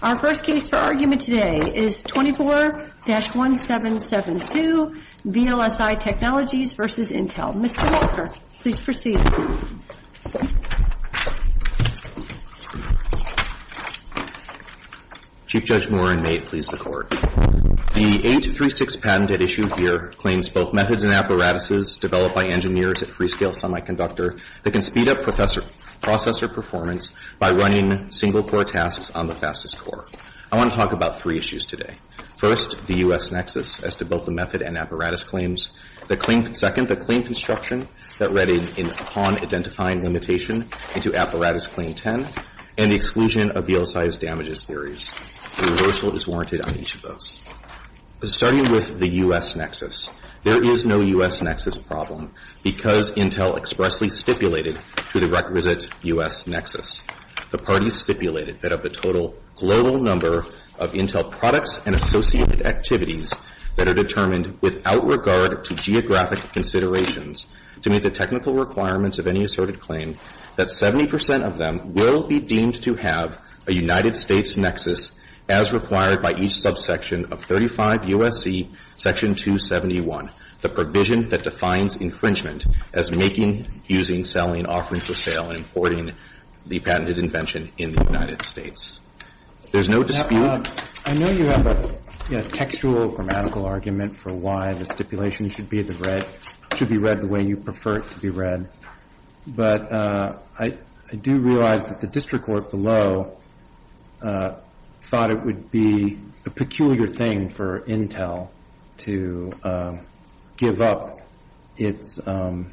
Our first case for argument today is 24-1772, VLSI Technologies v. Intel. Mr. Walker, please proceed. Chief Judge Moran, may it please the Court. The 836 patent at issue here claims both methods and apparatuses developed by engineers at Freescale Semiconductor that can speed up processor performance by running single-core tasks on the fastest core. I want to talk about three issues today. First, the U.S. nexus as to both the method and apparatus claims. Second, the claim construction that read in upon identifying limitation into apparatus claim 10 and the exclusion of VLSI's damages theories. Reversal is warranted on each of those. Starting with the U.S. nexus, there is no U.S. nexus problem because Intel expressly stipulated to the requisite U.S. nexus. The parties stipulated that of the total global number of Intel products and associated activities that are determined without regard to geographic considerations to meet the technical requirements of any asserted claim, that 70 percent of them will be deemed to have a United States nexus as required by each subsection of 35 U.S.C. Section 271, the provision that defines infringement as making, using, selling, offering for sale, and importing the patented invention in the United States. There's no dispute. I know you have a textual grammatical argument for why the stipulation should be read the way you prefer it to be read. But I do realize that the district court below thought it would be a peculiar thing for Intel to give up its territoriality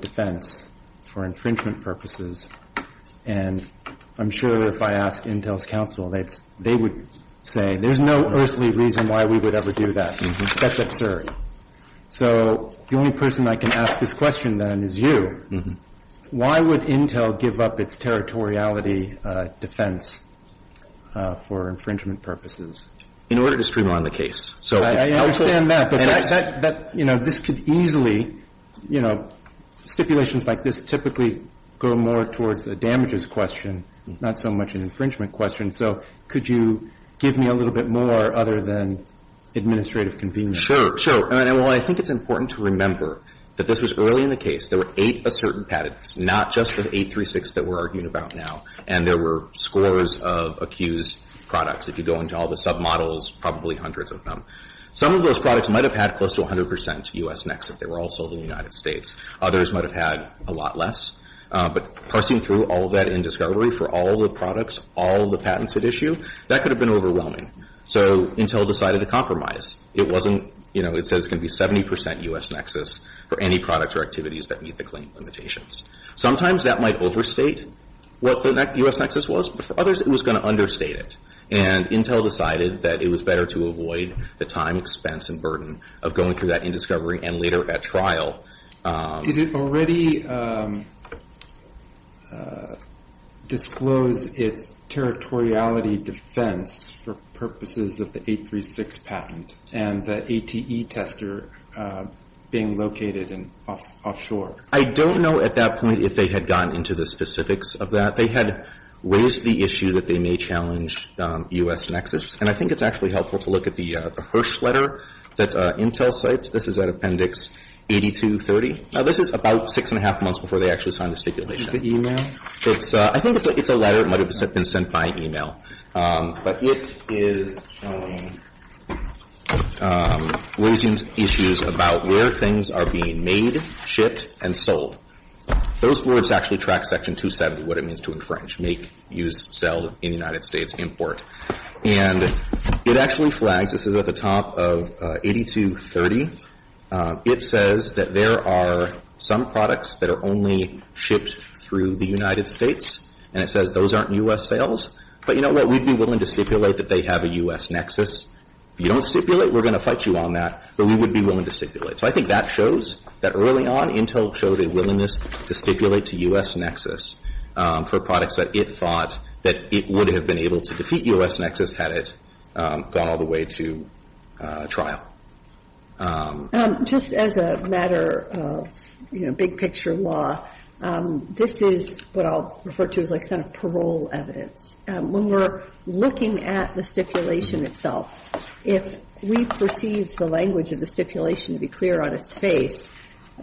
defense for infringement purposes. And I'm sure if I ask Intel's counsel, they would say there's no earthly reason why we would ever do that. That's absurd. So the only person I can ask this question, then, is you. Why would Intel give up its territoriality defense for infringement purposes? In order to streamline the case. I understand that. But this could easily, you know, stipulations like this typically go more towards a damages question, not so much an administrative convenience question. Sure. Sure. Well, I think it's important to remember that this was early in the case. There were eight asserted patents, not just the 836 that we're arguing about now. And there were scores of accused products. If you go into all the submodels, probably hundreds of them. Some of those products might have had close to 100 percent U.S. nexus. They were all sold in the United States. Others might have had a lot less. But parsing through all of that in discovery for all the products, all the patents at issue, that could have been overwhelming. So Intel decided to compromise. It wasn't, you know, it said it was going to be 70 percent U.S. nexus for any products or activities that meet the claim limitations. Sometimes that might overstate what the U.S. nexus was. But for others, it was going to understate it. And Intel decided that it was better to avoid the time, expense, and burden of going through that in discovery and later at trial. Did it already disclose its territoriality defense for purposes of the 836 patent and the ATE tester being located offshore? I don't know at that point if they had gotten into the specifics of that. They had raised the issue that they may challenge U.S. nexus. And I think it's actually helpful to look at the Hirsch letter that Intel cites. This is at Appendix 8230. Now, this is about six and a half months before they actually signed the stipulation. The e-mail? I think it's a letter. It might have been sent by e-mail. But it is raising issues about where things are being made, shipped, and sold. Those words actually track Section 270, what it means to, in French, make, use, sell, in the United States, import. And it actually flags. This is at the top of 8230. It says that there are some products that are only shipped through the United States. And it says those aren't U.S. sales. But you know what? We'd be willing to stipulate that they have a U.S. nexus. If you don't stipulate, we're going to fight you on that. But we would be willing to stipulate. So I think that shows that early on, Intel showed a willingness to stipulate to U.S. nexus for products that it thought that it would have been able to defeat U.S. nexus had it gone all the way to trial. Just as a matter of, you know, big picture law, this is what I'll refer to as, like, sort of parole evidence. When we're looking at the stipulation itself, if we perceive the language of the stipulation to be clear on its face,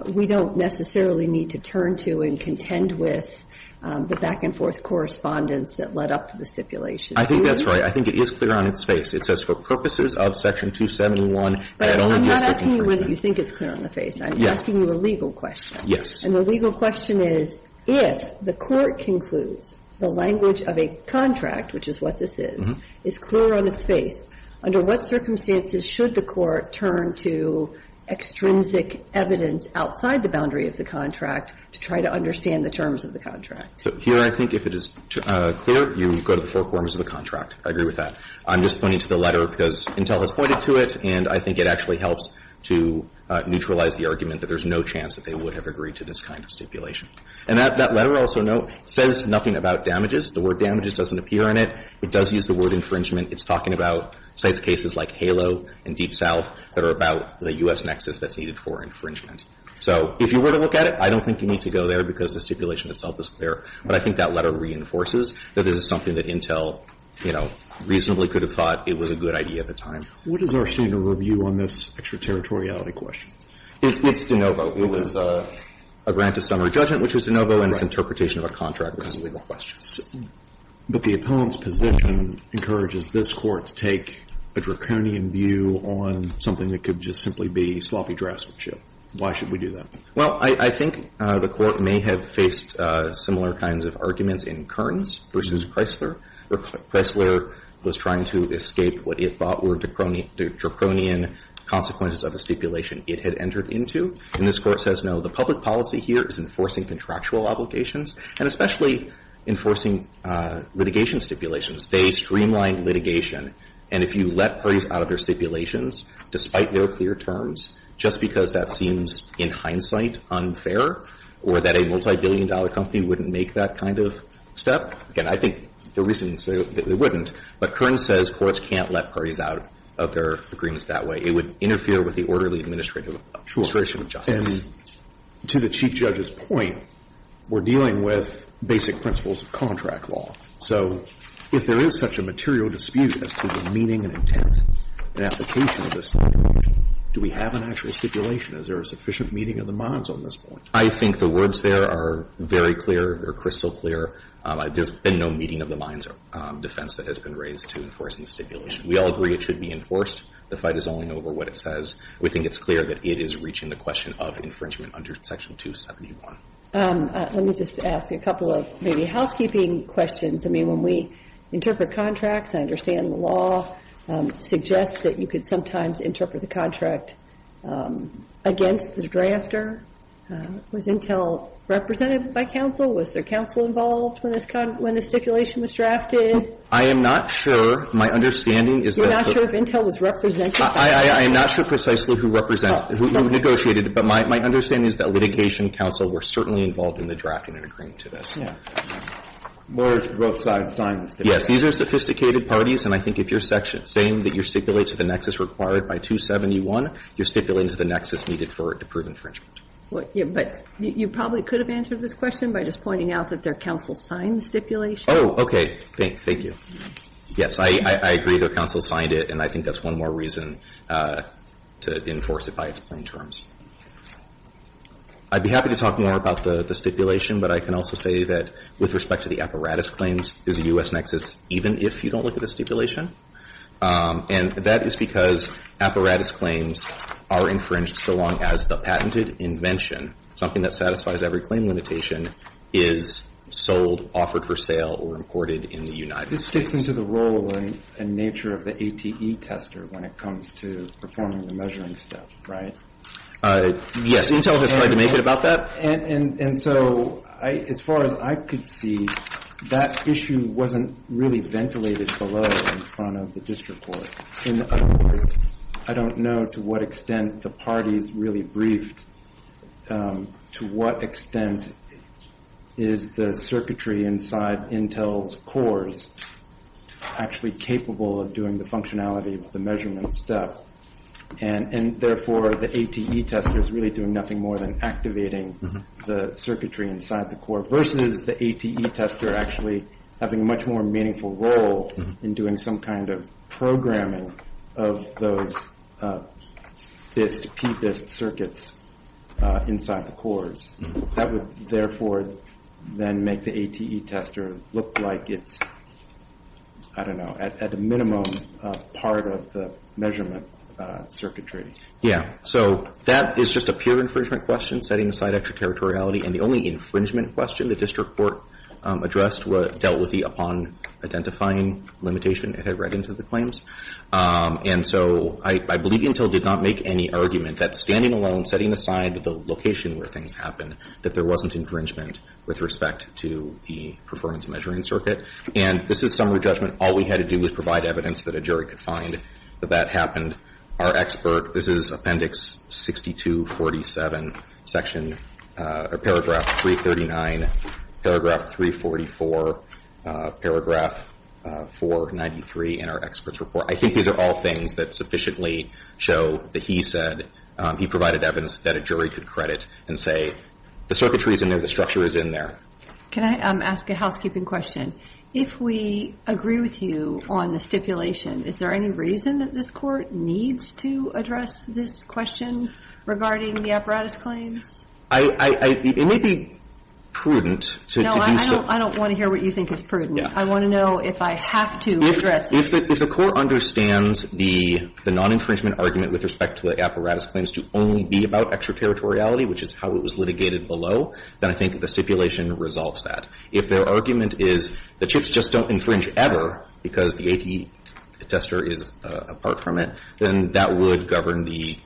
we don't necessarily need to turn to and contend with the back and forth correspondence that led up to the stipulation. I think that's right. I think it is clear on its face. It says, for purposes of Section 271, that only U.S. nexus. But I'm not asking you whether you think it's clear on the face. Yes. I'm asking you a legal question. Yes. And the legal question is, if the Court concludes the language of a contract, which is what this is, is clear on its face, under what circumstances should the Court turn to extrinsic evidence outside the boundary of the contract to try to understand the terms of the contract? So here I think if it is clear, you go to the four forms of the contract. I agree with that. I'm just pointing to the letter because Intel has pointed to it, and I think it actually helps to neutralize the argument that there's no chance that they would have agreed to this kind of stipulation. And that letter also says nothing about damages. The word damages doesn't appear in it. It does use the word infringement. It's talking about sites cases like Halo and Deep South that are about the U.S. nexus that's needed for infringement. So if you were to look at it, I don't think you need to go there because the stipulation itself is clear. But I think that letter reinforces that this is something that Intel, you know, reasonably could have thought it was a good idea at the time. What is our standard of review on this extraterritoriality question? It's de novo. It was a grant of summary judgment, which was de novo, and it's interpretation of a contract because of legal questions. But the opponent's position encourages this Court to take a draconian view on something that could just simply be sloppy draftsmanship. Why should we do that? Well, I think the Court may have faced similar kinds of arguments in Kearns versus Chrysler. Chrysler was trying to escape what it thought were draconian consequences of a stipulation it had entered into. And this Court says, no, the public policy here is enforcing contractual obligations and especially enforcing litigation stipulations. They streamline litigation. And if you let parties out of their stipulations despite their clear terms just because that seems in hindsight unfair or that a multibillion-dollar company wouldn't make that kind of step, again, I think the reasoning is they wouldn't. But Kearns says courts can't let parties out of their agreements that way. It would interfere with the orderly administration of justice. And to the Chief Judge's point, we're dealing with basic principles of contract law. So if there is such a material dispute as to the meaning and intent and application of the stipulation, do we have an actual stipulation? Is there a sufficient meeting of the minds on this point? I think the words there are very clear. They're crystal clear. There's been no meeting of the minds defense that has been raised to enforcing the stipulation. We all agree it should be enforced. The fight is only over what it says. We think it's clear that it is reaching the question of infringement under Section 271. Let me just ask you a couple of maybe housekeeping questions. I mean, when we interpret contracts, I understand the law suggests that you could sometimes interpret the contract against the drafter. Was Intel represented by counsel? Was there counsel involved when this stipulation was drafted? I am not sure. My understanding is that the You're not sure if Intel was represented by counsel? I am not sure precisely who represented, who negotiated it. But my understanding is that litigation counsel were certainly involved in the drafting and agreeing to this. Yeah. Lawyers from both sides signed this. Yes. These are sophisticated parties. And I think if you're saying that you stipulate to the nexus required by 271, you're stipulating to the nexus needed for it to prove infringement. But you probably could have answered this question by just pointing out that their counsel signed the stipulation. Oh, okay. Thank you. Yes, I agree that counsel signed it. And I think that's one more reason to enforce it by its plain terms. I'd be happy to talk more about the stipulation. But I can also say that with respect to the apparatus claims, there's a U.S. nexus even if you don't look at the stipulation. And that is because apparatus claims are infringed so long as the patented invention, something that satisfies every claim limitation, is sold, offered for sale, or imported in the United States. This fits into the role and nature of the ATE tester when it comes to performing the measuring step, right? Yes. Intel has tried to make it about that. And so as far as I could see, that issue wasn't really ventilated below in front of the district court. In other words, I don't know to what extent the parties really briefed to what extent is the circuitry inside Intel's cores actually capable of doing the functionality of the measurement step. And therefore, the ATE tester is really doing nothing more than activating the circuitry inside the core versus the ATE tester actually having a much more of those PIST circuits inside the cores. That would, therefore, then make the ATE tester look like it's, I don't know, at a minimum part of the measurement circuitry. Yeah. So that is just a pure infringement question, setting aside extraterritoriality. And the only infringement question the district court addressed dealt with the limitation it had read into the claims. And so I believe Intel did not make any argument that standing alone, setting aside the location where things happened, that there wasn't infringement with respect to the performance measuring circuit. And this is summary judgment. All we had to do was provide evidence that a jury could find that that happened. Our expert, this is Appendix 6247, Section, or Paragraph 339, Paragraph 344, Paragraph 493 in our expert's report. I think these are all things that sufficiently show that he said he provided evidence that a jury could credit and say the circuitry is in there, the structure is in there. Can I ask a housekeeping question? If we agree with you on the stipulation, is there any reason that this court needs to address this question regarding the apparatus claims? It would be prudent to do so. I don't want to hear what you think is prudent. I want to know if I have to address it. If the court understands the non-infringement argument with respect to the apparatus claims to only be about extraterritoriality, which is how it was litigated below, then I think the stipulation resolves that. If their argument is the chips just don't infringe ever because the ATA tester is apart from it, then that would govern the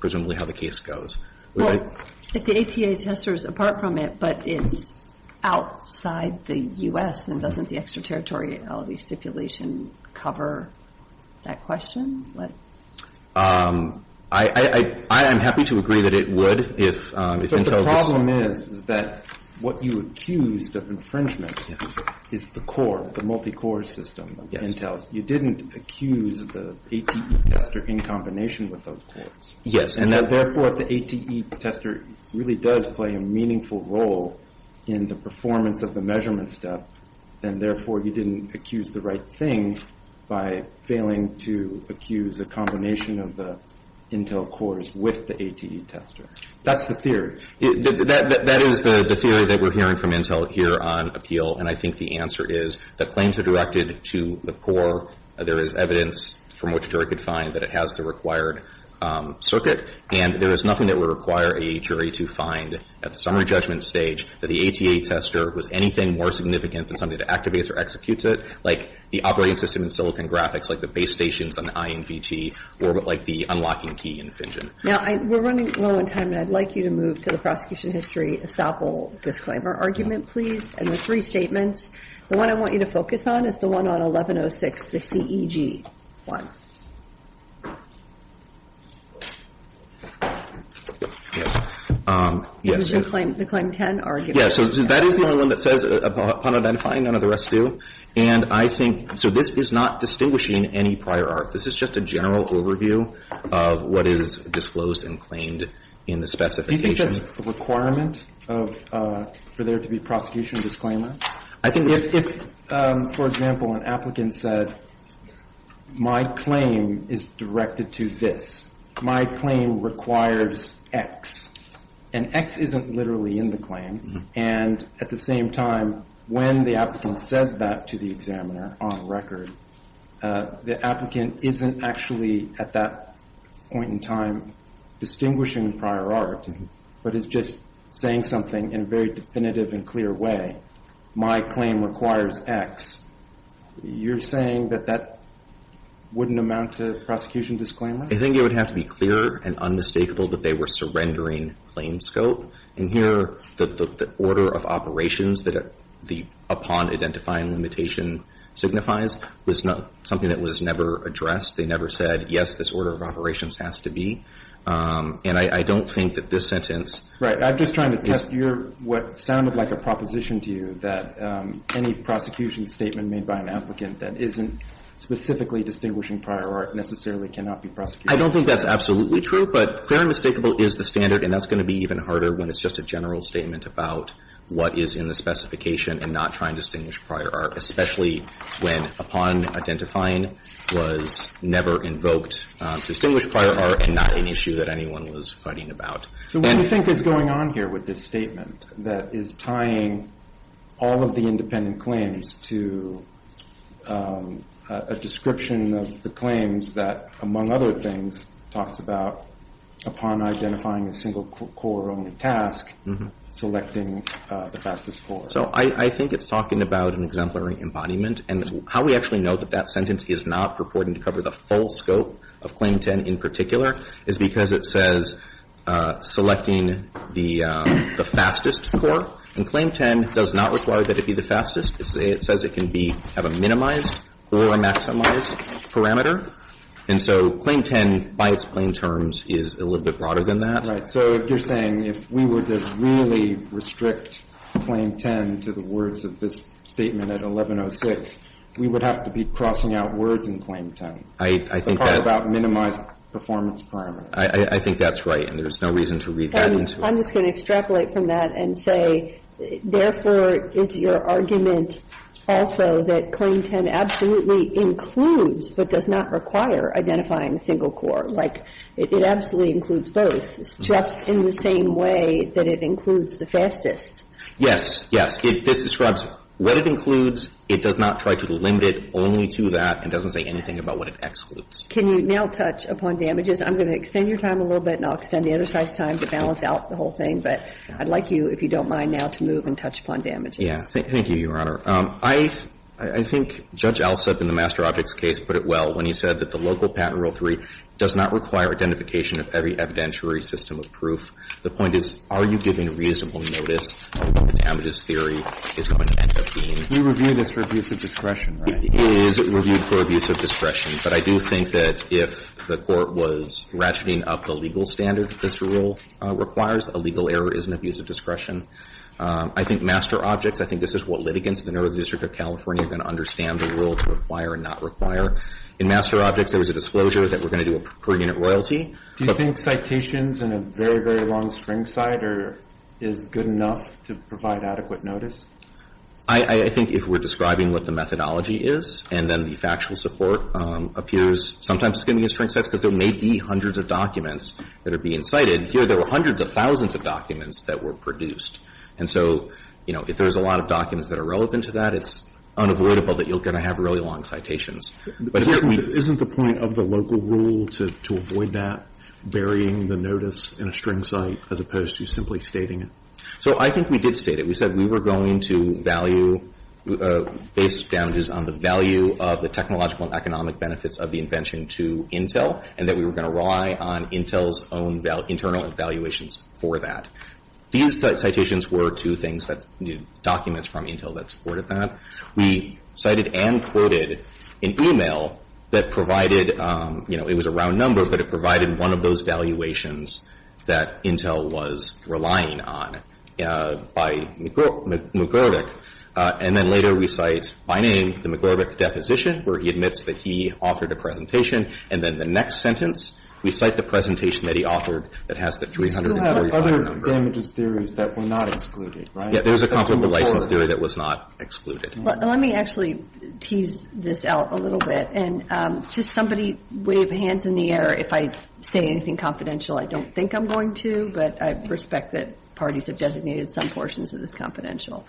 presumably how the case goes. Well, if the ATA tester is apart from it but it's outside the U.S., then doesn't the extraterritoriality stipulation cover that question? I am happy to agree that it would if Intel was But the problem is that what you accused of infringement is the core, the multi-core system of Intel. You didn't accuse the ATA tester in combination with those courts. Yes. And, therefore, if the ATA tester really does play a meaningful role in the performance of the measurement step, then, therefore, you didn't accuse the right thing by failing to accuse a combination of the Intel courts with the ATA tester. That's the theory. That is the theory that we're hearing from Intel here on appeal, and I think the answer is that claims are directed to the core. There is evidence from which a jury could find that it has the required circuit, and there is nothing that would require a jury to find at the summary judgment stage that the ATA tester was anything more significant than something that activates or executes it, like the operating system in silicon graphics, like the base stations on the INVT, or like the unlocking key infringement. Now, we're running low on time, and I'd like you to move to the prosecution history sample disclaimer argument, please, and the three statements. The one I want you to focus on is the one on 1106, the CEG one. Is it the claim 10 argument? Yes. So that is the only one that says, upon identifying, none of the rest do. And I think so this is not distinguishing any prior art. This is just a general overview of what is disclosed and claimed in the specifications. Do you think that's a requirement for there to be prosecution disclaimer? I think if, for example, an applicant said, my claim is directed to this. My claim requires X. And X isn't literally in the claim. And at the same time, when the applicant says that to the examiner on record, the applicant isn't actually at that point in time distinguishing prior art, but is just saying something in a very definitive and clear way. My claim requires X. You're saying that that wouldn't amount to prosecution disclaimer? I think it would have to be clear and unmistakable that they were surrendering claim scope. And here, the order of operations that the upon identifying limitation signifies was something that was never addressed. They never said, yes, this order of operations has to be. And I don't think that this sentence. I'm just trying to test what sounded like a proposition to you, that any prosecution statement made by an applicant that isn't specifically distinguishing prior art necessarily cannot be prosecuted. I don't think that's absolutely true. But clear and mistakable is the standard, and that's going to be even harder when it's just a general statement about what is in the specification and not trying to distinguish prior art, especially when upon identifying was never invoked to distinguish prior art and not an issue that anyone was fighting about. So what do you think is going on here with this statement that is tying all of the independent claims to a description of the claims that, among other things, talks about upon identifying a single core only task, selecting the fastest course? So I think it's talking about an exemplary embodiment. And how we actually know that that sentence is not purporting to cover the full scope of Claim 10 in particular is because it says selecting the fastest core. And Claim 10 does not require that it be the fastest. It says it can have a minimized or a maximized parameter. And so Claim 10, by its plain terms, is a little bit broader than that. So you're saying if we were to really restrict Claim 10 to the words of this statement at 1106, we would have to be crossing out words in Claim 10. I think that's right. It's all about minimized performance parameters. I think that's right. And there's no reason to read that into it. I'm just going to extrapolate from that and say, therefore, is your argument also that Claim 10 absolutely includes but does not require identifying a single core? Like, it absolutely includes both, just in the same way that it includes the fastest. Yes, yes. This describes what it includes. It does not try to limit it only to that and doesn't say anything about what it excludes. Can you now touch upon damages? I'm going to extend your time a little bit and I'll extend the other side's time to balance out the whole thing. But I'd like you, if you don't mind now, to move and touch upon damages. Yeah. Thank you, Your Honor. I think Judge Alsup in the Master Objects case put it well when he said that the local patent rule 3 does not require identification of every evidentiary system of proof. The point is, are you giving reasonable notice of what the damages theory is going to end up being? We review this for abuse of discretion, right? It is reviewed for abuse of discretion. But I do think that if the Court was ratcheting up the legal standard that this rule requires, a legal error is an abuse of discretion. I think Master Objects, I think this is what litigants in the Northern District of California are going to understand the rule to require and not require. In Master Objects, there was a disclosure that we're going to do a per-unit royalty. Do you think citations in a very, very long string cite is good enough to provide adequate notice? I think if we're describing what the methodology is and then the factual support appears, sometimes it's going to be in string cites because there may be hundreds of documents that are being cited. Here, there were hundreds of thousands of documents that were produced. And so, you know, if there's a lot of documents that are relevant to that, it's unavoidable that you're going to have really long citations. Isn't the point of the local rule to avoid that, burying the notice in a string cite as opposed to simply stating it? So I think we did state it. We said we were going to value, base damages on the value of the technological and economic benefits of the invention to Intel and that we were going to rely on Intel's own internal evaluations for that. These citations were two things that documents from Intel that supported that. We cited and quoted an e-mail that provided, you know, it was a round number, but it provided one of those valuations that Intel was relying on by McGlurk. And then later we cite, by name, the McGlurk deposition where he admits that he offered a presentation. And then the next sentence, we cite the presentation that he offered that has the 345. We still have other damages theories that were not excluded, right? There's a confidential license theory that was not excluded. Let me actually tease this out a little bit. And just somebody wave hands in the air if I say anything confidential. I don't think I'm going to, but I respect that parties have designated some portions of this confidential.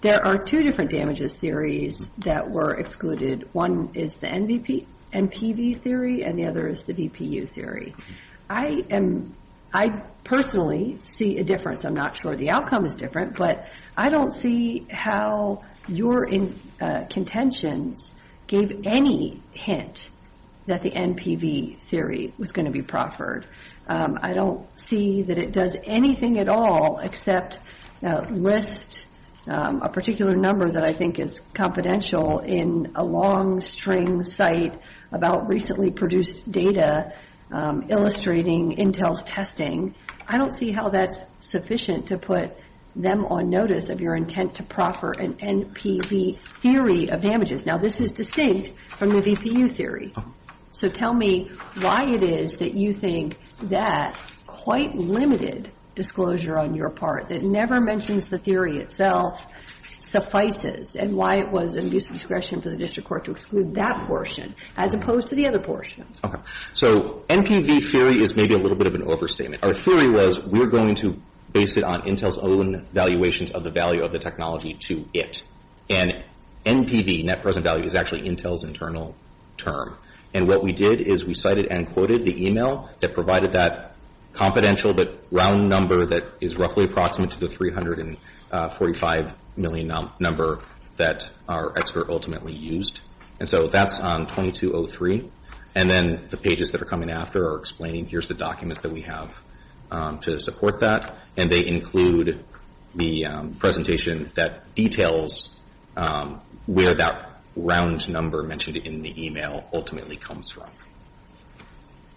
There are two different damages theories that were excluded. One is the NVP and PV theory, and the other is the VPU theory. I personally see a difference. I'm not sure the outcome is different, but I don't see how your contentions gave any hint that the NPV theory was going to be proffered. I don't see that it does anything at all except list a particular number that I think is confidential in a long string site about recently produced data illustrating Intel's testing. I don't see how that's sufficient to put them on notice of your intent to proffer an NPV theory of damages. Now, this is distinct from the VPU theory. So tell me why it is that you think that quite limited disclosure on your part, that never mentions the theory itself, suffices, and why it was an abuse of discretion for the district court to exclude that portion as opposed to the other portion. Okay. So NPV theory is maybe a little bit of an overstatement. Our theory was we're going to base it on Intel's own valuations of the value of the technology to it. And NPV, net present value, is actually Intel's internal term. And what we did is we cited and quoted the email that provided that confidential but round number that is roughly approximate to the $345 million number that our expert ultimately used. And so that's on 2203. And then the pages that are coming after are explaining here's the documents that we have to support that. And they include the presentation that details where that round number mentioned in the email ultimately comes from.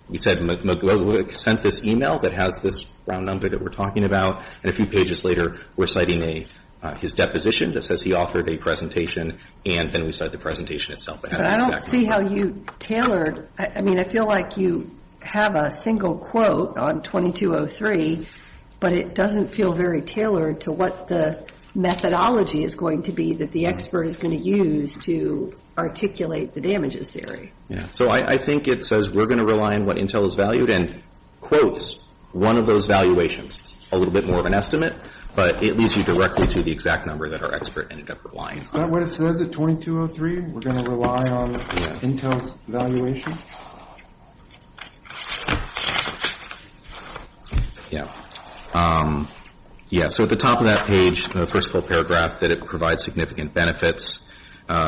We said McGlowick sent this email that has this round number that we're talking about. And a few pages later we're citing his deposition that says he offered a presentation and then we cite the presentation itself. But I don't see how you tailored. I mean, I feel like you have a single quote on 2203, but it doesn't feel very tailored to what the methodology is going to be that the expert is going to use to articulate the damages theory. Yeah. So I think it says we're going to rely on what Intel has valued and quotes one of those valuations. It's a little bit more of an estimate, but it leads you directly to the exact number that our expert ended up relying. Is that what it says at 2203? We're going to rely on Intel's valuation? Yeah. Yeah, so at the top of that page, the first full paragraph, that it provides significant benefits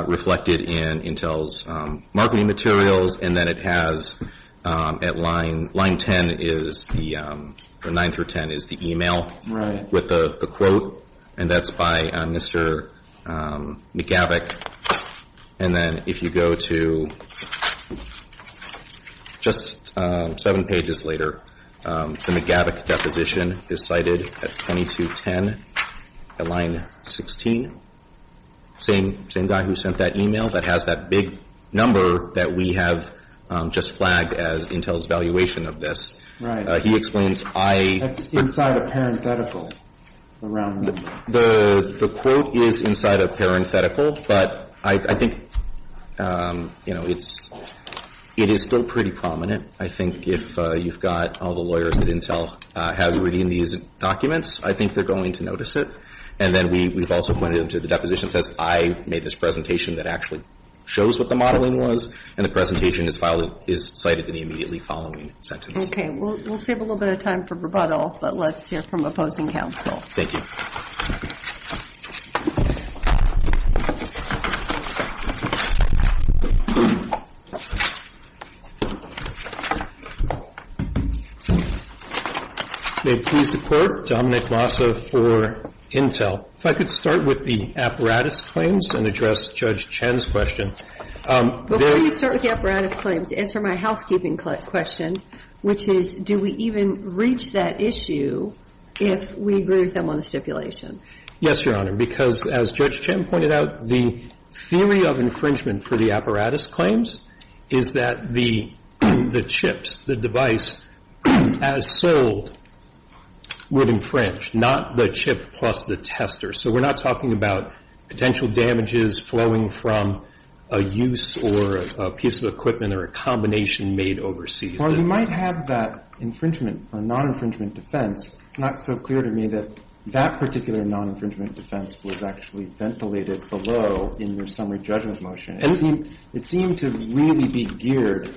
reflected in Intel's marketing materials. And then it has at line 10 is the or 9 through 10 is the email with the quote. And that's by Mr. McGavick. And then if you go to just seven pages later, the McGavick deposition is cited at 2210 at line 16. Same guy who sent that email that has that big number that we have just flagged as Intel's valuation of this. Right. He explains I. That's inside a parenthetical around the quote. The quote is inside a parenthetical, but I think it is still pretty prominent. I think if you've got all the lawyers that Intel has reading these documents, I think they're going to notice it. And then we've also pointed to the deposition that says, I made this presentation that actually shows what the modeling was, and the presentation is cited in the immediately following sentence. Okay. We'll save a little bit of time for rebuttal, but let's hear from opposing counsel. Thank you. May it please the Court, Dominic Massa for Intel. If I could start with the apparatus claims and address Judge Chen's question. Before you start with the apparatus claims, answer my housekeeping question. Which is, do we even reach that issue if we agree with them on the stipulation? Yes, Your Honor, because as Judge Chen pointed out, the theory of infringement for the apparatus claims is that the chips, the device as sold would infringe, not the chip plus the tester. So we're not talking about potential damages flowing from a use or a piece of equipment or a combination made overseas. While you might have that infringement or non-infringement defense, it's not so clear to me that that particular non-infringement defense was actually ventilated below in your summary judgment motion. It seemed to really be geared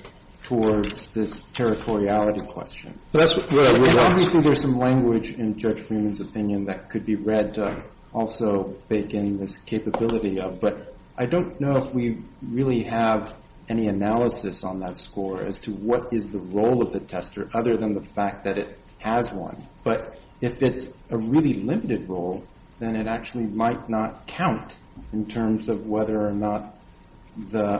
towards this territoriality question. And obviously there's some language in Judge Freeman's opinion that could be read to also bake in this capability of. But I don't know if we really have any analysis on that score as to what is the role of the tester other than the fact that it has one. But if it's a really limited role, then it actually might not count in terms of whether or not the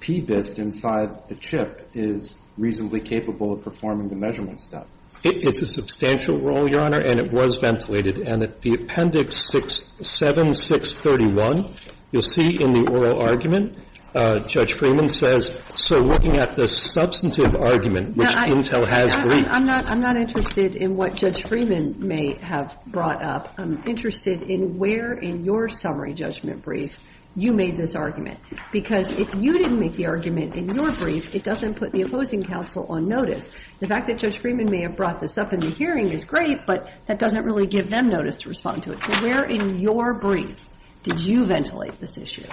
PBIST inside the chip is reasonably capable of performing the measurement step. It's a substantial role, Your Honor, and it was ventilated. And at the Appendix 7-631, you'll see in the oral argument, Judge Freeman says, so looking at the substantive argument, which Intel has briefed. I'm not interested in what Judge Freeman may have brought up. I'm interested in where in your summary judgment brief you made this argument. Because if you didn't make the argument in your brief, it doesn't put the opposing counsel on notice. The fact that Judge Freeman may have brought this up in the hearing is great, but that doesn't really give them notice to respond to it. So where in your brief did you ventilate this issue?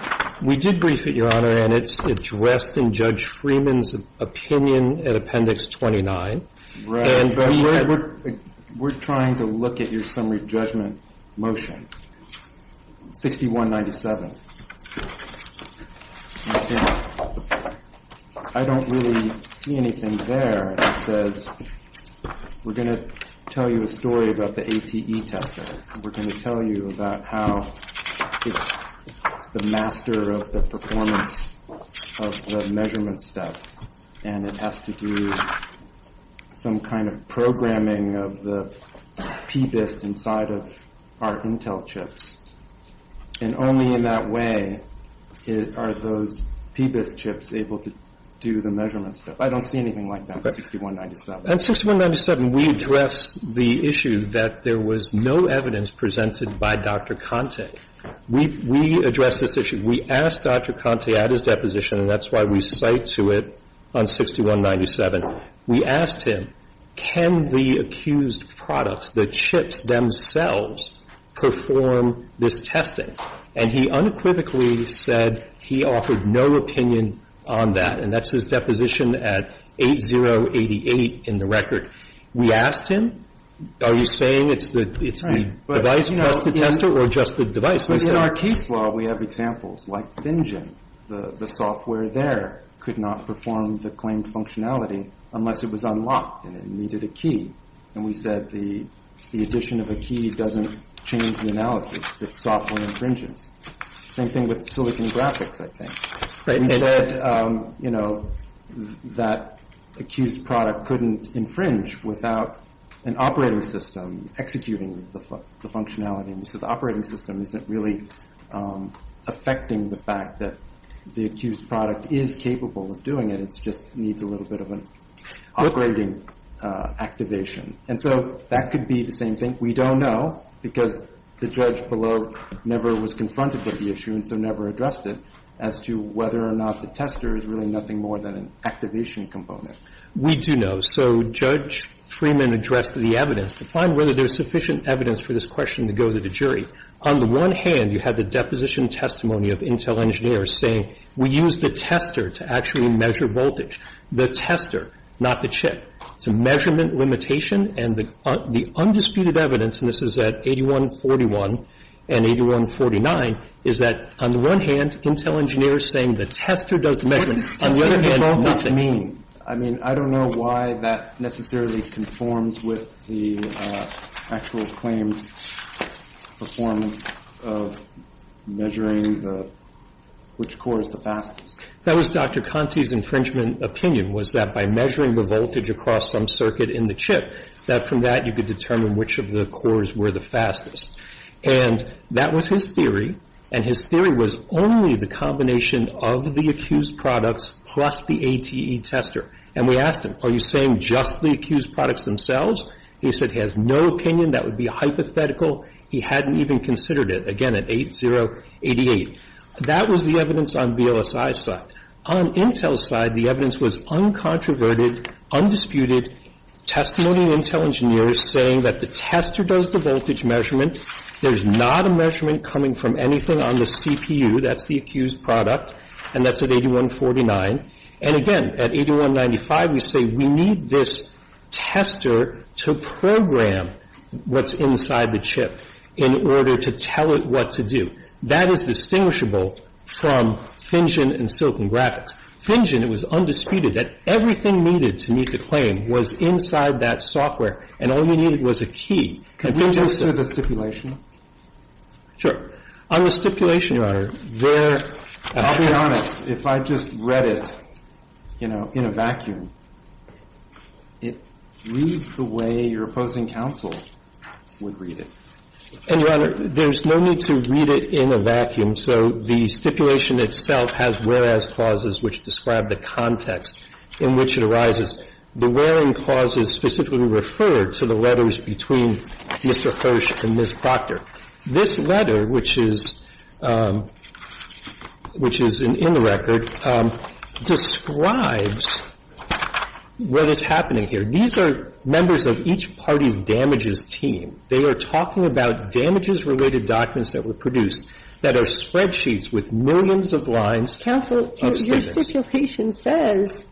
We did brief it, Your Honor, and it's addressed in Judge Freeman's opinion in Appendix 29. But we're trying to look at your summary judgment motion, 6197. I don't really see anything there that says we're going to tell you a story about the ATE tester. We're going to tell you about how it's the master of the performance of the measurement step, and it has to do some kind of programming of the PBIST inside of our Intel chips. And only in that way are those PBIST chips able to do the measurement step. I don't see anything like that in 6197. In 6197, we address the issue that there was no evidence presented by Dr. Conte. We address this issue. We asked Dr. Conte at his deposition, and that's why we cite to it on 6197. We asked him, can the accused products, the chips themselves, perform this testing? And he unequivocally said he offered no opinion on that, and that's his deposition at 8088 in the record. We asked him, are you saying it's the device plus the tester or just the device? In our case law, we have examples like FinGen. The software there could not perform the claimed functionality unless it was unlocked and it needed a key. And we said the addition of a key doesn't change the analysis. It's software infringence. Same thing with Silicon Graphics, I think. We said that the accused product couldn't infringe without an operating system executing the functionality. So the operating system isn't really affecting the fact that the accused product is capable of doing it. It just needs a little bit of an operating activation. And so that could be the same thing. We don't know because the judge below never was confronted with the issue and so never addressed it as to whether or not the tester is really nothing more than an activation component. We do know. So Judge Freeman addressed the evidence to find whether there's sufficient evidence for this question to go to the jury. On the one hand, you have the deposition testimony of Intel engineers saying we used the tester to actually measure voltage. The tester, not the chip. It's a measurement limitation, and the undisputed evidence, and this is at 8141 and 8149, is that on the one hand, Intel engineers saying the tester does the measurement. On the other hand, nothing. I mean, I don't know why that necessarily conforms with the actual claimed performance of measuring which core is the fastest. That was Dr. Conti's infringement opinion, was that by measuring the voltage across some circuit in the chip, that from that you could determine which of the cores were the fastest. And that was his theory, and his theory was only the combination of the accused products plus the ATE tester. And we asked him, are you saying just the accused products themselves? He said he has no opinion. That would be hypothetical. He hadn't even considered it. Again, at 8088. That was the evidence on BOSI's side. On Intel's side, the evidence was uncontroverted, undisputed, testimony of Intel engineers saying that the tester does the voltage measurement. There's not a measurement coming from anything on the CPU. That's the accused product. And that's at 8149. And again, at 8195, we say we need this tester to program what's inside the chip in order to tell it what to do. That is distinguishable from FinGen and Silicon Graphics. And the answer is no. FinGen, it was undisputed that everything needed to meet the claim was inside that software, and all you needed was a key. And FinGen said... Can we just go to the stipulation? Sure. On the stipulation, Your Honor, there... I'll be honest. If I just read it, you know, in a vacuum, it reads the way your opposing counsel would read it. And, Your Honor, there's no need to read it in a vacuum. So the stipulation itself has whereas clauses which describe the context in which it arises. The wherein clause is specifically referred to the letters between Mr. Hirsch and Ms. Proctor. This letter, which is in the record, describes what is happening here. These are members of each party's damages team. They are talking about damages-related documents that were produced that are spreadsheets with millions of lines... Counsel, your stipulation says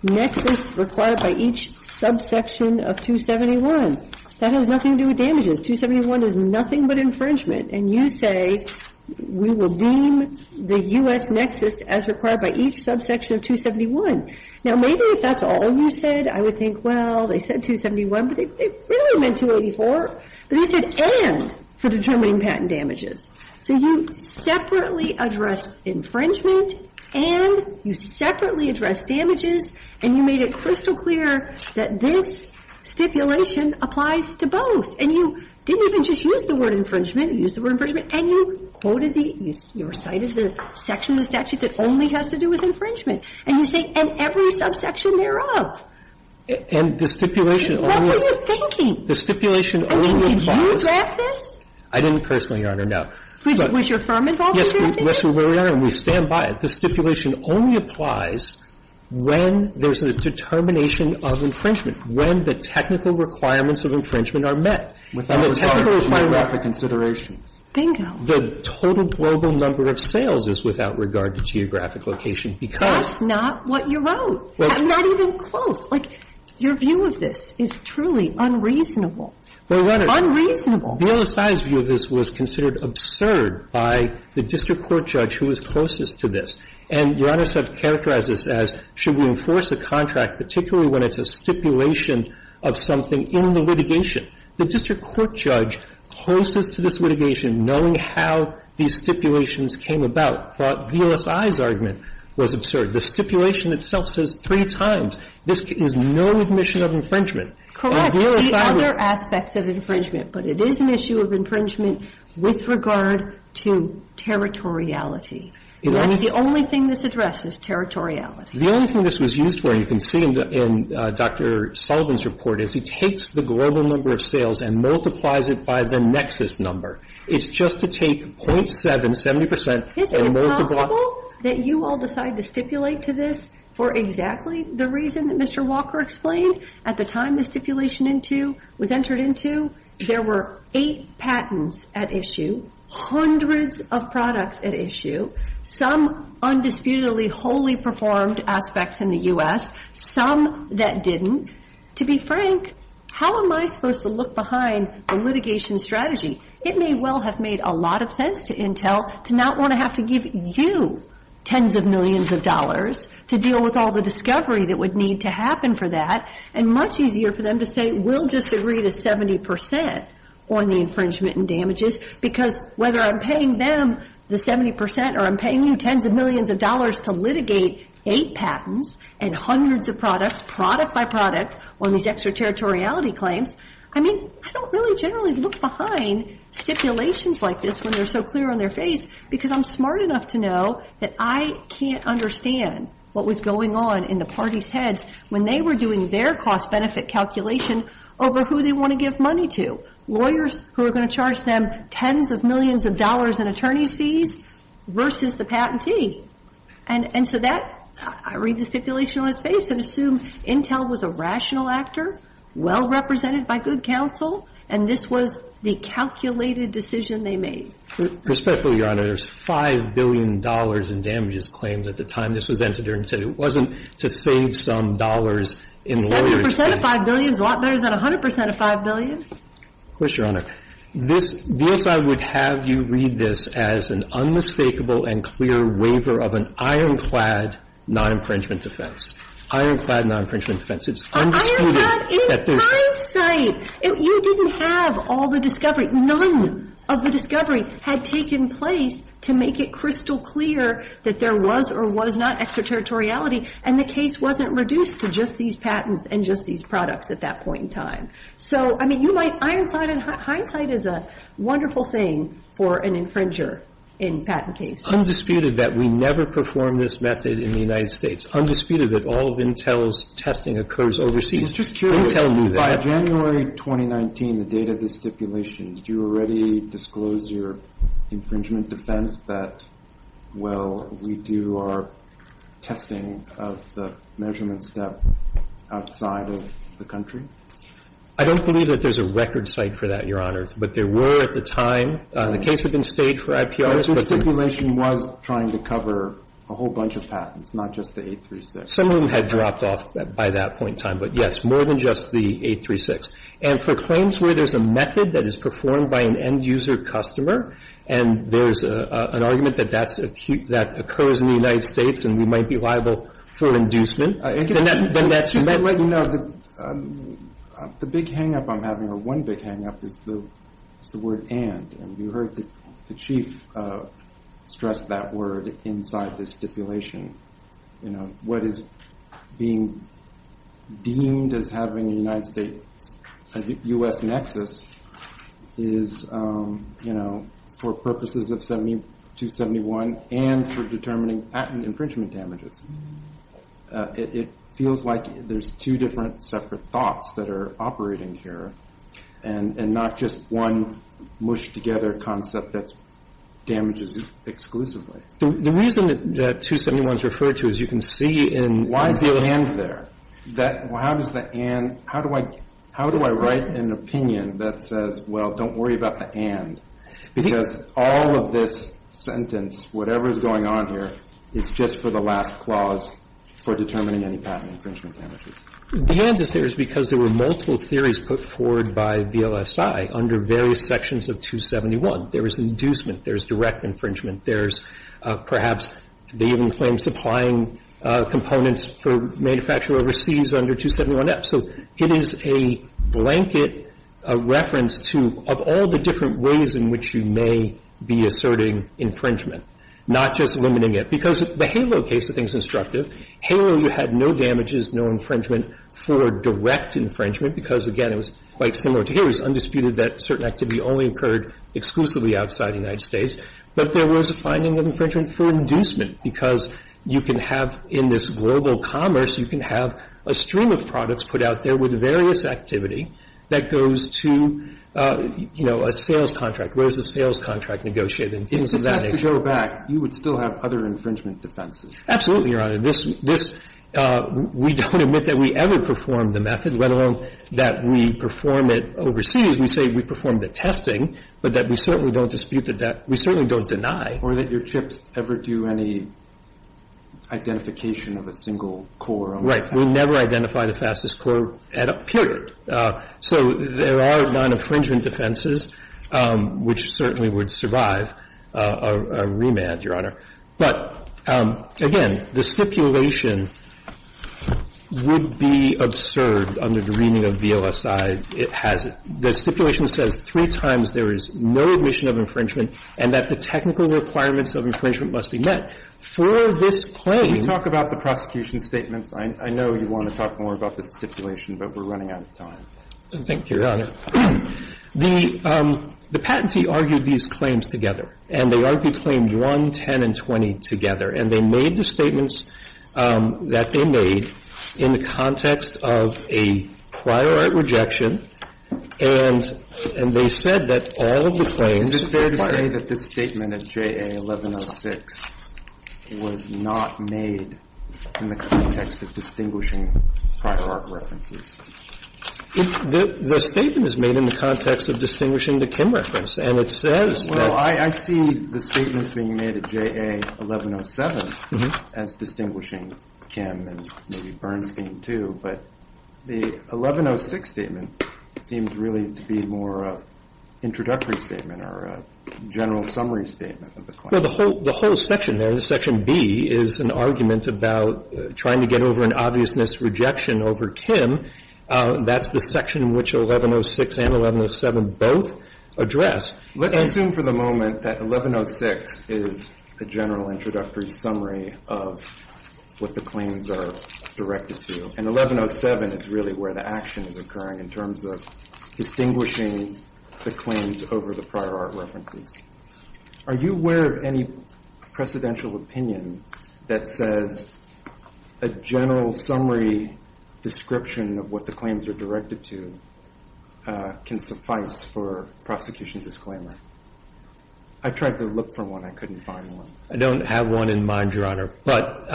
nexus required by each subsection of 271. That has nothing to do with damages. 271 is nothing but infringement. And you say we will deem the U.S. nexus as required by each subsection of 271. Now, maybe if that's all you said, I would think, well, they said 271, but they really meant 284. But you said and for determining patent damages. So you separately addressed infringement and you separately addressed damages, and you made it crystal clear that this stipulation applies to both. And you didn't even just use the word infringement. You used the word infringement and you quoted the you cited the section of the statute that only has to do with infringement. And you say and every subsection thereof. And the stipulation only... What were you thinking? The stipulation only applies... Did you draft this? I didn't personally, Your Honor, no. Was your firm involved in drafting it? Yes, Your Honor, and we stand by it. The stipulation only applies when there's a determination of infringement, when the technical requirements of infringement are met. Without regard to geographic considerations. Bingo. The total global number of sales is without regard to geographic location because... That's not what you wrote. I'm not even close. Like, your view of this is truly unreasonable. Unreasonable. VLSI's view of this was considered absurd by the district court judge who was closest to this. And Your Honor, so I've characterized this as should we enforce a contract, particularly when it's a stipulation of something in the litigation. The district court judge closest to this litigation, knowing how these stipulations came about, thought VLSI's argument was absurd. The stipulation itself says three times. This is no admission of infringement. The other aspects of infringement. But it is an issue of infringement with regard to territoriality. And that's the only thing this addresses, territoriality. The only thing this was used for, you can see in Dr. Sullivan's report, is he takes the global number of sales and multiplies it by the nexus number. It's just to take .7, 70 percent, and multiply... Mr. Walker explained, at the time this stipulation was entered into, there were eight patents at issue, hundreds of products at issue, some undisputedly wholly performed aspects in the U.S., some that didn't. To be frank, how am I supposed to look behind a litigation strategy? It may well have made a lot of sense to Intel to not want to have to give you tens of millions of dollars to deal with all the discovery that would need to happen for that, and much easier for them to say, we'll just agree to 70 percent on the infringement and damages, because whether I'm paying them the 70 percent or I'm paying you tens of millions of dollars to litigate eight patents and hundreds of products, product by product, on these extraterritoriality claims, I mean, I don't really generally look behind stipulations like this when they're so clear on their face, because I'm smart enough to know that I can't understand what was going on in the party's heads when they were doing their cost-benefit calculation over who they want to give money to. Lawyers who are going to charge them tens of millions of dollars in attorney's fees versus the patentee. And so that, I read the stipulation on its face and assume Intel was a rational actor, well-represented by good counsel, and this was the calculated decision they made. Respectfully, Your Honor, there's $5 billion in damages claimed at the time this was entered into it. It wasn't to save some dollars in lawyers' fees. 70 percent of $5 billion is a lot better than 100 percent of $5 billion. Of course, Your Honor. This BSI would have you read this as an unmistakable and clear waiver of an ironclad non-infringement defense. Ironclad non-infringement defense. It's undisputed that there's Ironclad in hindsight. You didn't have all the discovery. None of the discovery had taken place to make it crystal clear that there was or was not extraterritoriality, and the case wasn't reduced to just these patents and just these products at that point in time. So, I mean, you might, ironclad in hindsight is a wonderful thing for an infringer in patent cases. Undisputed that we never performed this method in the United States. It's undisputed that all of Intel's testing occurs overseas. It's just curious. Intel knew that. By January 2019, the date of the stipulation, did you already disclose your infringement defense that, well, we do our testing of the measurement step outside of the country? I don't believe that there's a record site for that, Your Honor. But there were at the time. The case had been stayed for IPRs. But the stipulation was trying to cover a whole bunch of patents, not just the 836. Some of them had dropped off by that point in time. But, yes, more than just the 836. And for claims where there's a method that is performed by an end-user customer and there's an argument that that's acute, that occurs in the United States and we might be liable for inducement, then that's used. The big hang-up I'm having, or one big hang-up, is the word and. And you heard the Chief stress that word inside the stipulation. What is being deemed as having a United States-U.S. nexus is for purposes of 7271 and for determining patent infringement damages. It feels like there's two different separate thoughts that are operating here and not just one mushed-together concept that damages exclusively. The reason that 271 is referred to, as you can see in the other section. Why is the and there? How does the and – how do I write an opinion that says, well, don't worry about the and? Because all of this sentence, whatever is going on here, is just for the last clause for determining any patent infringement damages. The and is there because there were multiple theories put forward by VLSI under various sections of 271. There is inducement. There is direct infringement. There is perhaps they even claim supplying components for manufacture overseas under 271F. So it is a blanket reference to, of all the different ways in which you may be asserting infringement, not just limiting it. Because the HALO case, I think, is instructive. HALO, you had no damages, no infringement for direct infringement because, again, it was quite similar to HALO. It was undisputed that certain activity only occurred exclusively outside the United States, but there was a finding of infringement for inducement because you can have in this global commerce, you can have a stream of products put out there with various activity that goes to, you know, a sales contract. Where is the sales contract negotiated and things of that nature? And if you go back, you would still have other infringement defenses. Absolutely, Your Honor. This we don't admit that we ever performed the method, let alone that we perform it overseas. We say we performed the testing, but that we certainly don't dispute that that. We certainly don't deny. Or that your chips ever do any identification of a single core. Right. We never identify the fastest core, period. So there are non-infringement defenses which certainly would survive a remand, But, again, the stipulation would be absurd under the reading of VLSI. It has the stipulation that says three times there is no admission of infringement and that the technical requirements of infringement must be met. For this claim You talk about the prosecution statements. I know you want to talk more about the stipulation, but we're running out of time. Thank you, Your Honor. The patentee argued these claims together. And they argued claim 1, 10, and 20 together. And they made the statements that they made in the context of a prior right rejection. And they said that all of the claims. And is it fair to say that this statement of JA1106 was not made in the context of distinguishing prior art references? The statement is made in the context of distinguishing the Kim reference. And it says that. Well, I see the statements being made at JA1107 as distinguishing Kim and maybe Bernstein, too. But the 1106 statement seems really to be more of an introductory statement or a general summary statement of the claim. Well, the whole section there, section B, is an argument about trying to get over an obviousness rejection over Kim. That's the section which 1106 and 1107 both address. Let's assume for the moment that 1106 is a general introductory summary of what the claims are directed to. And 1107 is really where the action is occurring in terms of distinguishing the claims over the prior art references. Are you aware of any precedential opinion that says a general summary description of what the claims are directed to can suffice for prosecution disclaimer? I tried to look for one. I couldn't find one. I don't have one in mind, Your Honor. But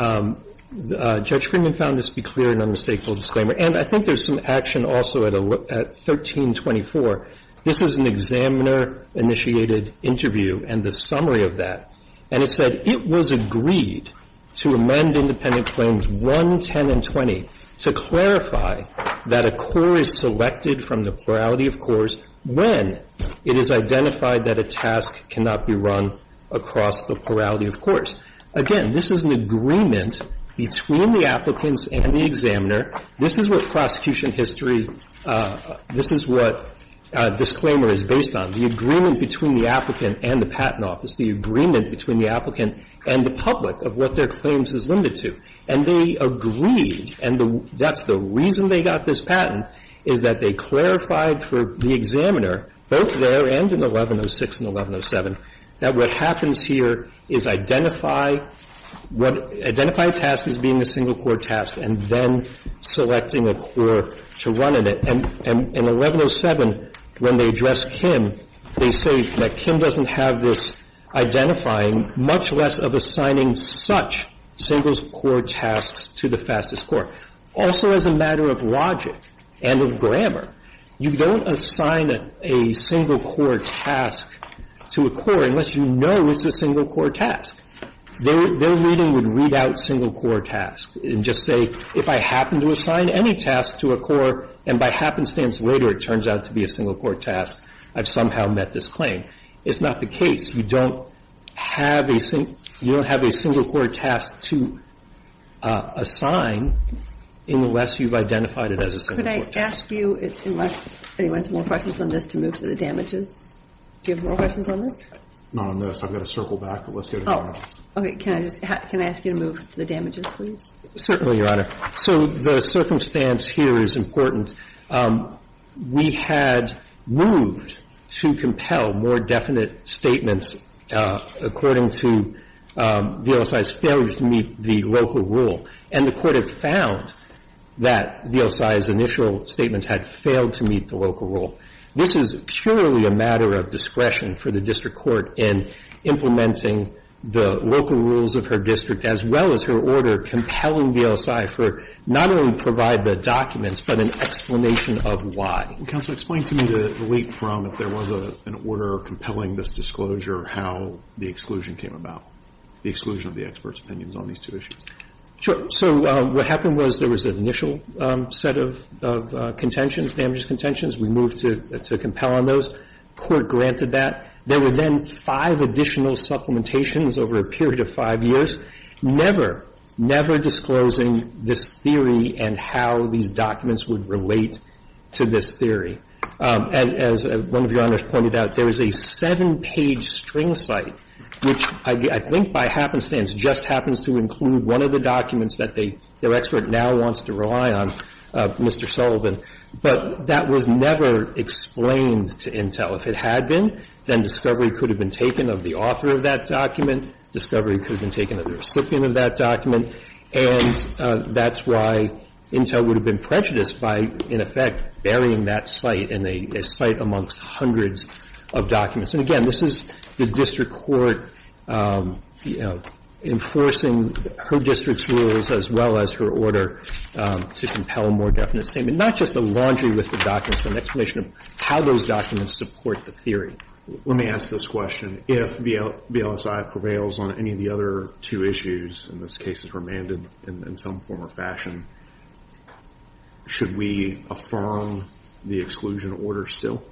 Judge Friedman found this to be clear and unmistakable disclaimer. And I think there's some action also at 1324. This is an examiner-initiated interview and the summary of that. And it said, It was agreed to amend Independent Claims 110 and 20 to clarify that a core is selected from the plurality of cores when it is identified that a task cannot be run across the plurality of cores. Again, this is an agreement between the applicants and the examiner. This is what prosecution history, this is what disclaimer is based on, the agreement between the applicant and the patent office, the agreement between the applicant and the public of what their claims is limited to. And they agreed, and that's the reason they got this patent, is that they clarified for the examiner, both there and in 1106 and 1107, that what happens here is identifying a task as being a single core task and then selecting a core to run in it. And in 1107, when they address Kim, they say that Kim doesn't have this identifying, much less of assigning such single core tasks to the fastest core. Also, as a matter of logic and of grammar, you don't assign a single core task to a core unless you know it's a single core task. Their reading would read out single core tasks and just say, if I happen to assign any task to a core and by happenstance later it turns out to be a single core task, I've somehow met this claim. It's not the case. You don't have a single core task to assign unless you've identified it as a single core task. Could I ask you, unless anyone has more questions on this, to move to the damages? Do you have more questions on this? Not on this. I've got to circle back, but let's go to the damages. Oh, okay. Can I ask you to move to the damages, please? Certainly, Your Honor. So the circumstance here is important. We had moved to compel more definite statements according to VLSI's failure to meet the local rule, and the Court had found that VLSI's initial statements had failed to meet the local rule. This is purely a matter of discretion for the district court in implementing the local rules of her district as well as her order compelling VLSI for not only to provide the documents but an explanation of why. Counsel, explain to me the leap from if there was an order compelling this disclosure how the exclusion came about, the exclusion of the expert's opinions on these two issues. Sure. So what happened was there was an initial set of contentions, damages contentions. We moved to compel on those. The Court granted that. There were then five additional supplementations over a period of five years, never, never disclosing this theory and how these documents would relate to this theory. As one of Your Honors pointed out, there is a seven-page string site which I think by happenstance just happens to include one of the documents that their expert now wants to rely on, Mr. Sullivan. But that was never explained to Intel. If it had been, then discovery could have been taken of the author of that document. Discovery could have been taken of the recipient of that document. And that's why Intel would have been prejudiced by, in effect, burying that site in a site amongst hundreds of documents. And, again, this is the district court, you know, enforcing her district's as well as her order to compel more definite statement. Not just a laundry list of documents, but an explanation of how those documents support the theory. Let me ask this question. If VLSI prevails on any of the other two issues, and this case is remanded in some form or fashion, should we affirm the exclusion order still?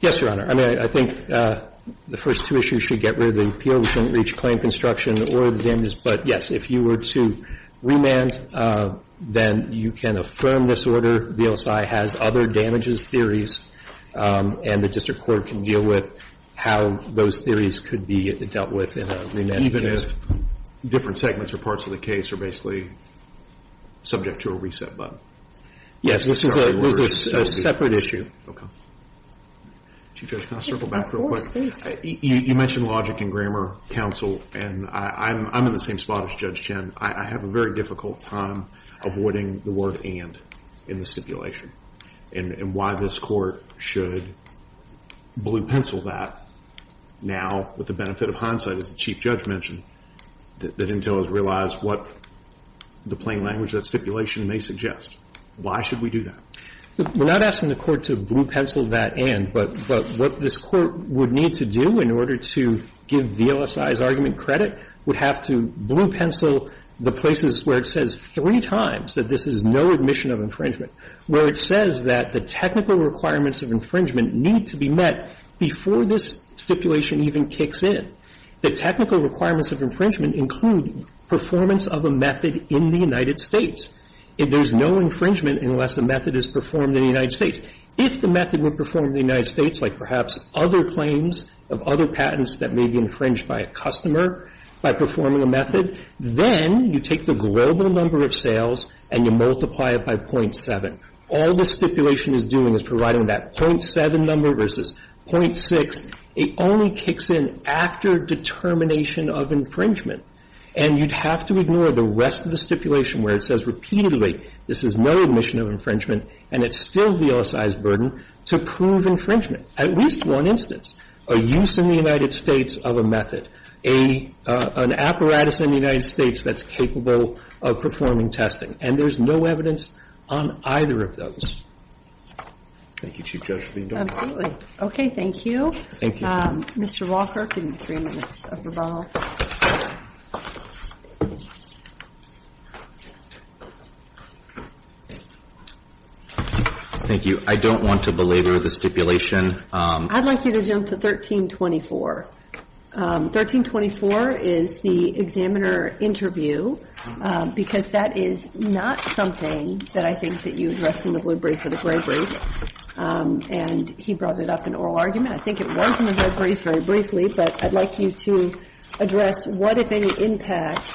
Yes, Your Honor. I mean, I think the first two issues should get rid of the appeal. We shouldn't reach claim construction or the damages. But, yes, if you were to remand, then you can affirm this order. VLSI has other damages theories, and the district court can deal with how those theories could be dealt with in a remand case. Even if different segments or parts of the case are basically subject to a reset button? Yes, this is a separate issue. Chief Judge, can I circle back real quick? Of course, please. You mentioned logic and grammar counsel, and I'm in the same spot as Judge Chen. I have a very difficult time avoiding the word and in the stipulation and why this court should blue pencil that now with the benefit of hindsight, as the Chief Judge mentioned, that Intel has realized what the plain language of that stipulation may suggest. Why should we do that? We're not asking the court to blue pencil that and, but what this court would need to do in order to give VLSI's argument credit, would have to blue pencil the places where it says three times that this is no admission of infringement, where it says that the technical requirements of infringement need to be met before this stipulation even kicks in. The technical requirements of infringement include performance of a method in the United States. There's no infringement unless the method is performed in the United States. If the method were performed in the United States, like perhaps other claims of other patents that may be infringed by a customer by performing a method, then you take the global number of sales and you multiply it by .7. All the stipulation is doing is providing that .7 number versus .6. It only kicks in after determination of infringement, and you'd have to ignore the rest of the stipulation where it says repeatedly this is no admission of infringement and it's still VLSI's burden to prove infringement, at least one instance, a use in the United States of a method, an apparatus in the United States that's capable of performing testing. And there's no evidence on either of those. Thank you, Chief Judge. Absolutely. Okay, thank you. Thank you. Mr. Walker, give me three minutes. Thank you. I don't want to belabor the stipulation. I'd like you to jump to 1324. 1324 is the examiner interview because that is not something that I think that you addressed in the blue brief or the gray brief. And he brought it up in oral argument. Yeah, I think it was in the gray brief very briefly, but I'd like you to address what, if any, impact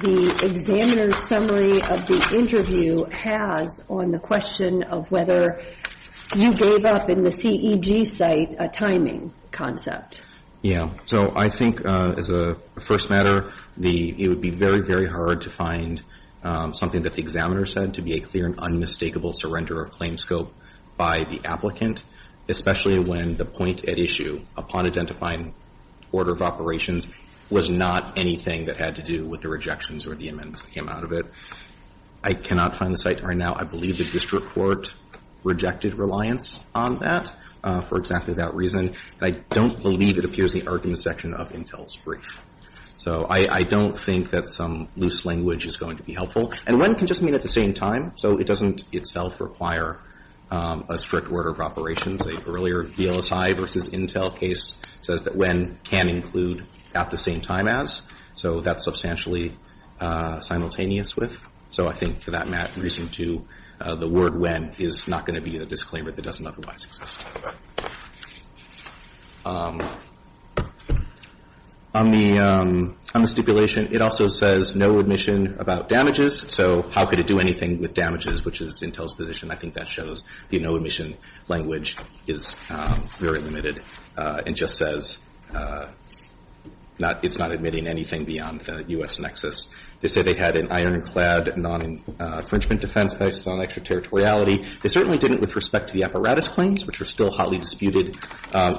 the examiner's summary of the interview has on the question of whether you gave up in the CEG site a timing concept. Yeah, so I think as a first matter, it would be very, very hard to find something that the examiner said to be a clear and unmistakable surrender of claim scope by the applicant, especially when the point at issue upon identifying order of operations was not anything that had to do with the rejections or the amendments that came out of it. I cannot find the site right now. I believe the district court rejected reliance on that for exactly that reason. I don't believe it appears in the argument section of Intel's brief. So I don't think that some loose language is going to be helpful. And when can just mean at the same time. So it doesn't itself require a strict order of operations. An earlier VLSI versus Intel case says that when can include at the same time as. So that's substantially simultaneous with. So I think for that reason, too, the word when is not going to be a disclaimer that doesn't otherwise exist. On the stipulation, it also says no admission about damages. So how could it do anything with damages, which is Intel's position? I think that shows the no admission language is very limited. It just says it's not admitting anything beyond the U.S. nexus. They say they had an ironclad non-infringement defense based on extraterritoriality. They certainly didn't with respect to the apparatus claims, which are still hotly disputed.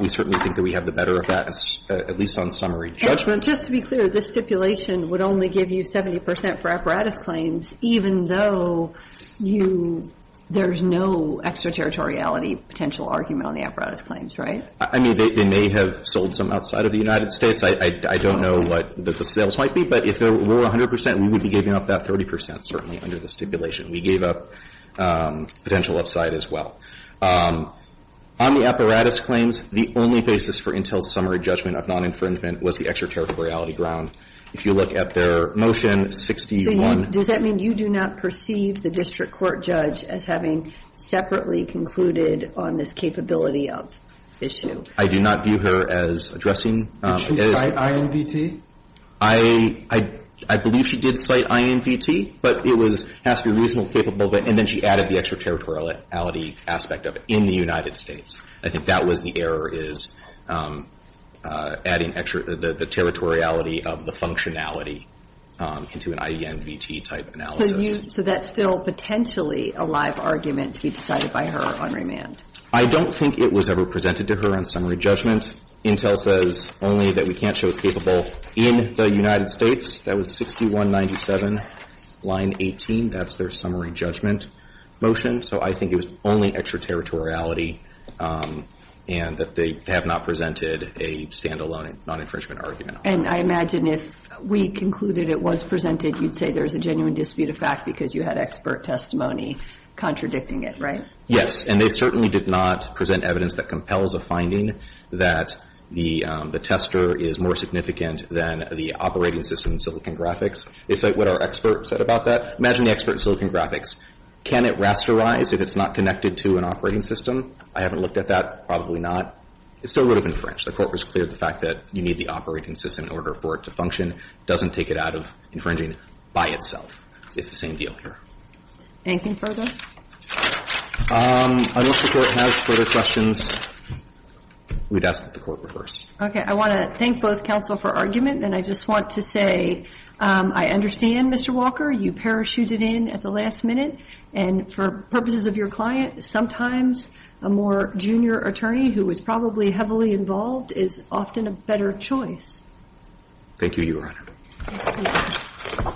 We certainly think that we have the better of that, at least on summary judgment. And just to be clear, this stipulation would only give you 70 percent for apparatus claims, even though you – there's no extraterritoriality potential argument on the apparatus claims, right? I mean, they may have sold some outside of the United States. I don't know what the sales might be. But if there were 100 percent, we would be giving up that 30 percent, certainly, under the stipulation. We gave up potential upside as well. On the apparatus claims, the only basis for Intel's summary judgment of non-infringement was the extraterritoriality ground. If you look at their motion 61 – So does that mean you do not perceive the district court judge as having separately concluded on this capability of issue? I do not view her as addressing – Did she cite IMVT? I believe she did cite IMVT, but it was – has to be reasonably capable of it. And then she added the extraterritoriality aspect of it in the United States. I think that was the error, is adding the territoriality of the functionality into an IMVT-type analysis. So you – so that's still potentially a live argument to be decided by her on remand? I don't think it was ever presented to her on summary judgment. Intel says only that we can't show it's capable in the United States. That was 6197, line 18. That's their summary judgment motion. So I think it was only extraterritoriality and that they have not presented a standalone non-infringement argument. And I imagine if we concluded it was presented, you'd say there's a genuine dispute of fact because you had expert testimony contradicting it, right? Yes. And they certainly did not present evidence that compels a finding that the tester is more significant than the operating system in Silicon Graphics. They cite what our expert said about that. Imagine the expert in Silicon Graphics. Can it rasterize if it's not connected to an operating system? I haven't looked at that. Probably not. It still would have infringed. The Court was clear of the fact that you need the operating system in order for it to function. It doesn't take it out of infringing by itself. It's the same deal here. Anything further? Unless the Court has further questions, we'd ask that the Court reverse. Okay. I want to thank both counsel for argument, and I just want to say I understand, Mr. Walker. You parachuted in at the last minute. And for purposes of your client, sometimes a more junior attorney who was probably heavily involved is often a better choice. Thank you, Your Honor. Excellent.